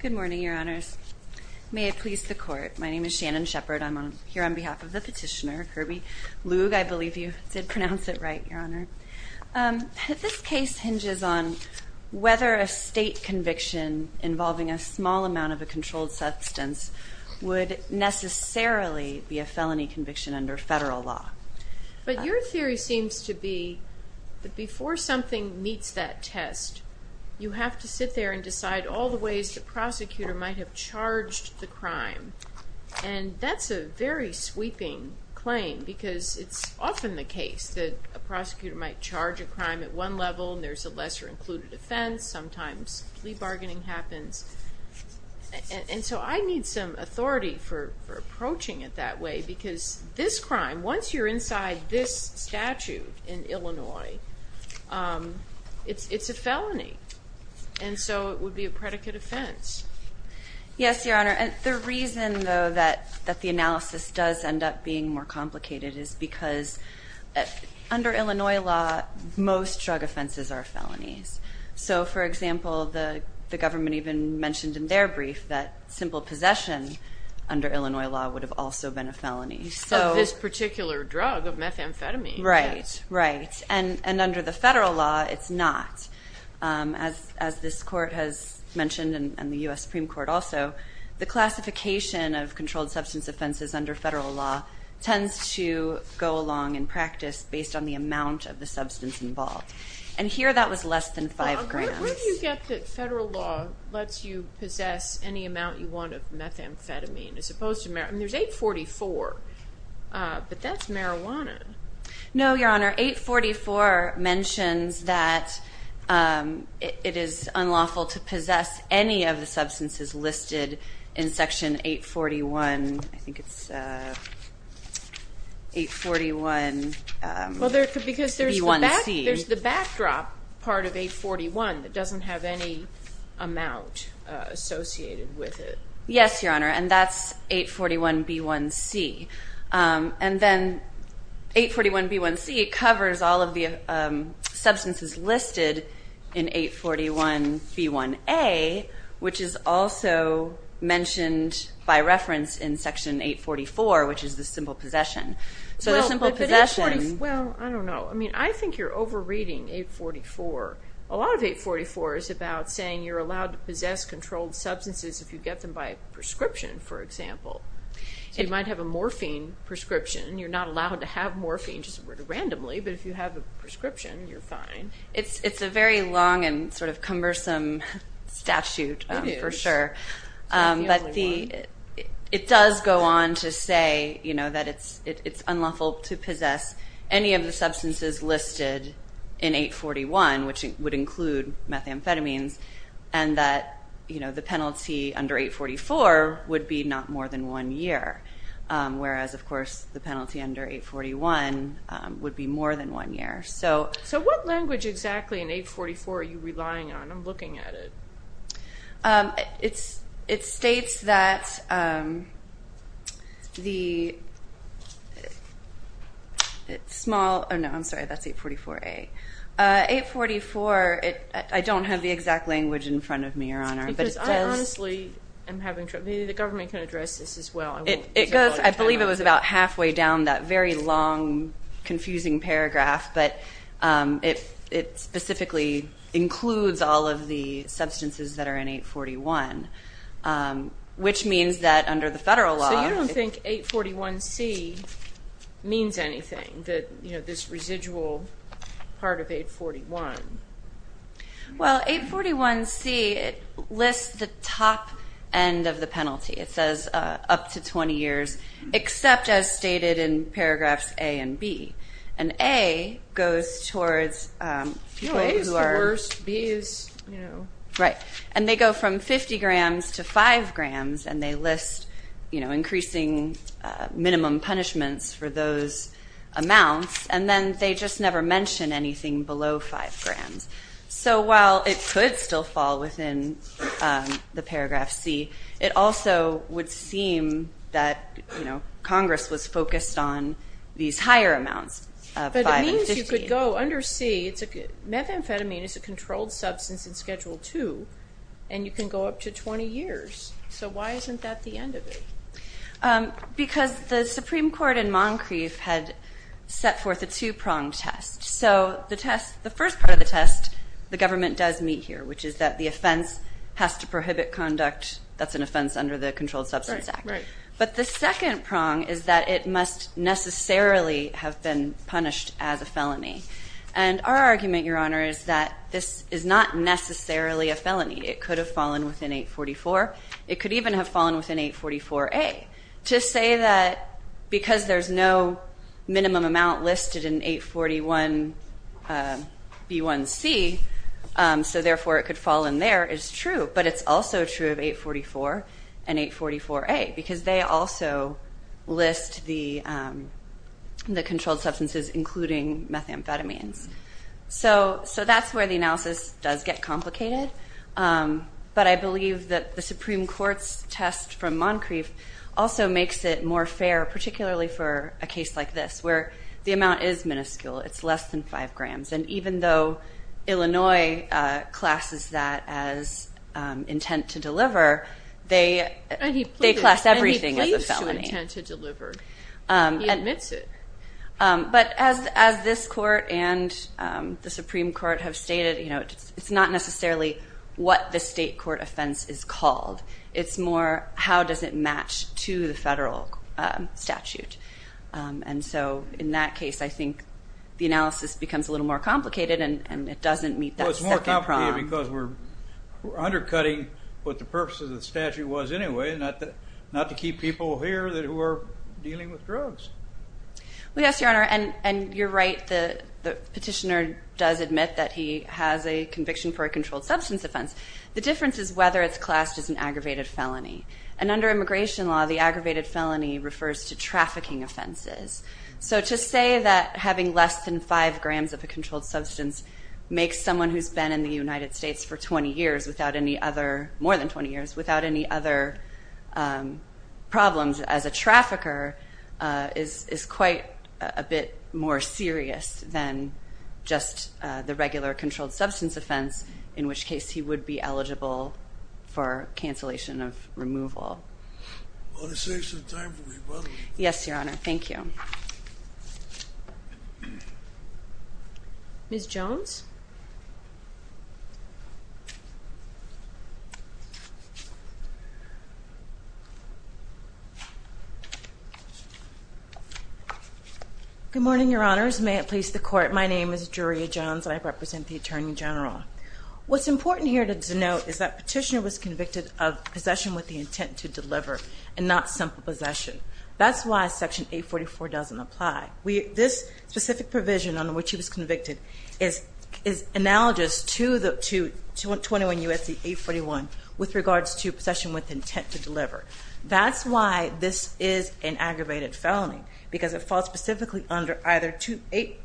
Good morning, Your Honors. May it please the Court, my name is Shannon Shepherd. I'm here on behalf of the petitioner, Herby Lugue, I believe you did pronounce it right, Your Honor. This case hinges on whether a state conviction involving a small amount of a controlled substance would necessarily be a felony conviction under federal law. But your theory seems to be that before something meets that test, you have to sit there and decide all the ways the prosecutor might have charged the crime. And that's a very sweeping claim because it's often the case that a prosecutor might charge a crime at one level and there's a lesser included offense, sometimes plea bargaining happens. And so I need some authority for approaching it that way because this crime, once you're inside this statute in Illinois, it's a felony. And so it would be a predicate offense. Yes, Your Honor. And the reason, though, that the analysis does end up being more complicated is because under Illinois law, most drug offenses are felonies. So, for example, the government even mentioned in their brief that simple possession under Illinois law would have also been a felony. Of this particular drug, of methamphetamine. Right, right. And under the federal law, it's not. As this court has mentioned and the U.S. Supreme Court also, the classification of controlled substance offenses under federal law tends to go along in practice based on the amount of the substance involved. And here that was less than five grams. Where do you get that federal law lets you possess any amount you want of methamphetamine as opposed to marijuana? I mean, there's 844, but that's marijuana. No, Your Honor. 844 mentions that it is unlawful to possess any of the substances listed in Section 841. I think it's 841B1C. Because there's the backdrop part of 841 that doesn't have any amount associated with it. Yes, Your Honor, and that's 841B1C. And then 841B1C covers all of the substances listed in 841B1A, which is also mentioned by reference in Section 844, which is the simple possession. Well, I don't know. I mean, I think you're over-reading 844. A lot of 844 is about saying you're allowed to possess controlled substances if you get them by prescription, for example. So you might have a morphine prescription. You're not allowed to have morphine just randomly, but if you have a prescription, you're fine. It's a very long and sort of cumbersome statute for sure. It is. that it's unlawful to possess any of the substances listed in 841, which would include methamphetamines, and that the penalty under 844 would be not more than one year, whereas, of course, the penalty under 841 would be more than one year. So what language exactly in 844 are you relying on? I'm looking at it. It states that the small – oh, no, I'm sorry. That's 844A. 844, I don't have the exact language in front of me, Your Honor. Because I honestly am having trouble. Maybe the government can address this as well. I believe it was about halfway down that very long, confusing paragraph, but it specifically includes all of the substances that are in 841, which means that under the federal law – So you don't think 841C means anything, this residual part of 841? Well, 841C lists the top end of the penalty. It says up to 20 years, except as stated in paragraphs A and B. And A goes towards people who are – A is the worst. B is – Right. And they go from 50 grams to 5 grams, and they list increasing minimum punishments for those amounts, and then they just never mention anything below 5 grams. So while it could still fall within the paragraph C, it also would seem that Congress was focused on these higher amounts of 5 and 15. But it means you could go under C. Methamphetamine is a controlled substance in Schedule II, and you can go up to 20 years. So why isn't that the end of it? Because the Supreme Court in Moncrief had set forth a two-pronged test. So the test – the first part of the test the government does meet here, which is that the offense has to prohibit conduct. That's an offense under the Controlled Substance Act. Right, right. But the second prong is that it must necessarily have been punished as a felony. And our argument, Your Honor, is that this is not necessarily a felony. It could have fallen within 844. It could even have fallen within 844A. To say that because there's no minimum amount listed in 841B1C, so therefore it could fall in there, is true. But it's also true of 844 and 844A because they also list the controlled substances, including methamphetamines. So that's where the analysis does get complicated. But I believe that the Supreme Court's test from Moncrief also makes it more fair, particularly for a case like this, where the amount is minuscule. It's less than 5 grams. And even though Illinois classes that as intent to deliver, they class everything as a felony. And he pleads to intent to deliver. He admits it. But as this court and the Supreme Court have stated, it's not necessarily what the state court offense is called. It's more how does it match to the federal statute. And so in that case, I think the analysis becomes a little more complicated, and it doesn't meet that second prong. Well, it's more complicated because we're undercutting what the purpose of the statute was anyway, not to keep people here who are dealing with drugs. Well, yes, Your Honor, and you're right. The petitioner does admit that he has a conviction for a controlled substance offense. The difference is whether it's classed as an aggravated felony. And under immigration law, the aggravated felony refers to trafficking offenses. So to say that having less than 5 grams of a controlled substance makes someone who's been in the United States for 20 years without any other problems as a trafficker is quite a bit more serious than just the regular controlled substance offense, in which case he would be eligible for cancellation of removal. Well, it saves some time for me, by the way. Yes, Your Honor. Thank you. Ms. Jones? Good morning, Your Honors. May it please the Court, my name is Juria Jones, and I represent the Attorney General. What's important here to denote is that petitioner was convicted of possession with the intent to deliver and not simple possession. That's why Section 844 doesn't apply. This specific provision under which he was convicted is analogous to 21 U.S.C. 841 with regards to possession with intent to deliver. That's why this is an aggravated felony, because it falls specifically under either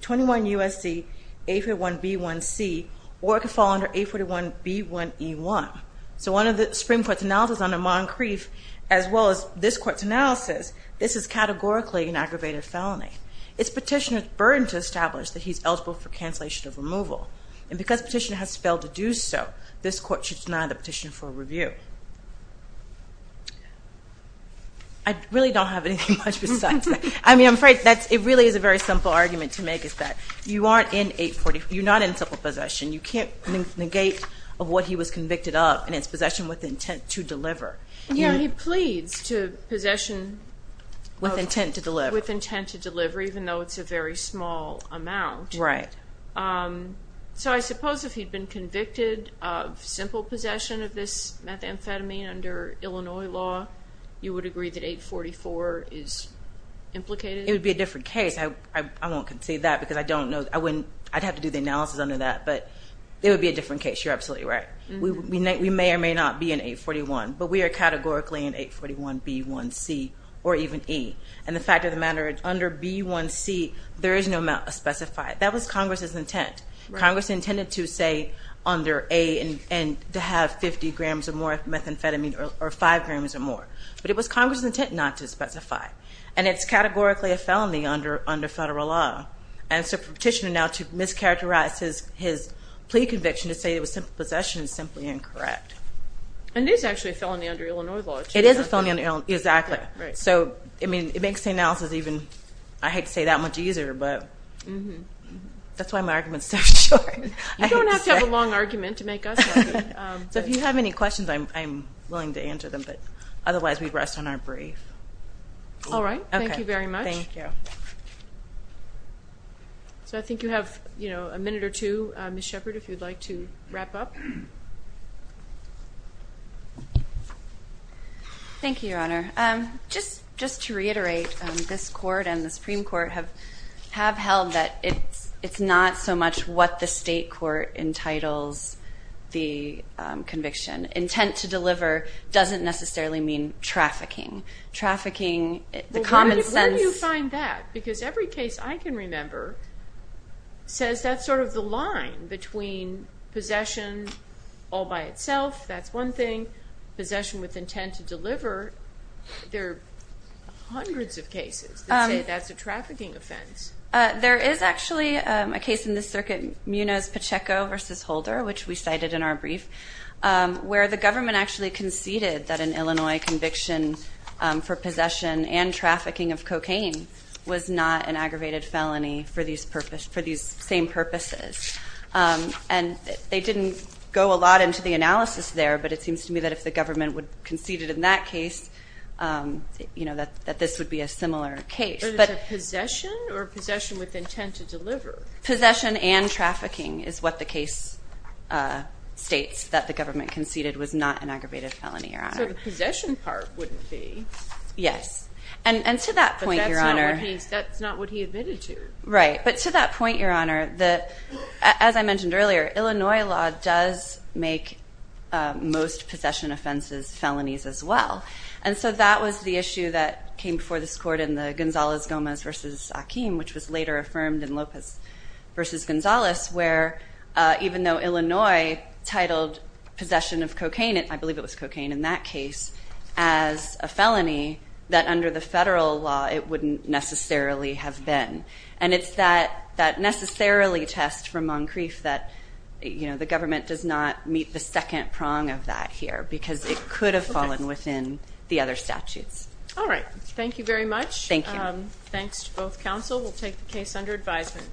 21 U.S.C. 841b1c or it could fall under 841b1e1. So under the Supreme Court's analysis under Moncrief, as well as this Court's analysis, this is categorically an aggravated felony. It's petitioner's burden to establish that he's eligible for cancellation of removal. And because petitioner has failed to do so, this Court should deny the petitioner for review. I really don't have anything much besides that. I mean, I'm afraid that it really is a very simple argument to make is that you aren't in 844, you're not in simple possession. You can't negate of what he was convicted of, and it's possession with intent to deliver. Yeah, he pleads to possession with intent to deliver, even though it's a very small amount. Right. So I suppose if he'd been convicted of simple possession of this methamphetamine under Illinois law, you would agree that 844 is implicated? It would be a different case. I won't concede that because I don't know. I'd have to do the analysis under that, but it would be a different case. You're absolutely right. We may or may not be in 841, but we are categorically in 841b1c or even e. And the fact of the matter is under b1c, there is no specified. That was Congress's intent. Congress intended to say under a and to have 50 grams or more of methamphetamine or 5 grams or more. But it was Congress's intent not to specify. And it's categorically a felony under federal law. And so for a petitioner now to mischaracterize his plea conviction to say it was simple possession is simply incorrect. And it is actually a felony under Illinois law. It is a felony under Illinois law. Exactly. Right. So, I mean, it makes the analysis even, I hate to say, that much easier. But that's why my argument is so short. You don't have to have a long argument to make us happy. So if you have any questions, I'm willing to answer them. But otherwise, we rest on our brief. All right. Thank you very much. Thank you. So I think you have a minute or two, Ms. Shepard, if you'd like to wrap up. Thank you, Your Honor. Just to reiterate, this Court and the Supreme Court have held that it's not so much what the state court entitles the conviction. Intent to deliver doesn't necessarily mean trafficking. Trafficking, the common sense. Where do you find that? Because every case I can remember says that's sort of the line between possession all by itself, that's one thing, possession with intent to deliver, there are hundreds of cases that say that's a trafficking offense. There is actually a case in this circuit, Munoz-Pacheco v. Holder, which we cited in our brief, where the government actually conceded that an Illinois conviction for possession and trafficking of cocaine was not an aggravated felony for these same purposes. And they didn't go a lot into the analysis there, but it seems to me that if the government conceded in that case that this would be a similar case. But is it possession or possession with intent to deliver? Possession and trafficking is what the case states, that the government conceded was not an aggravated felony, Your Honor. So the possession part wouldn't be. Yes. And to that point, Your Honor. But that's not what he admitted to. Right. But to that point, Your Honor, as I mentioned earlier, Illinois law does make most possession offenses felonies as well. And so that was the issue that came before this court in the Gonzalez-Gomez v. Akeem, which was later affirmed in Lopez v. Gonzalez, where even though Illinois titled possession of cocaine, I believe it was cocaine in that case, as a felony, that under the federal law it wouldn't necessarily have been. And it's that necessarily test from Moncrief that the government does not meet the second prong of that here, because it could have fallen within the other statutes. All right. Thank you very much. Thank you. Thanks to both counsel. We'll take the case under advisement.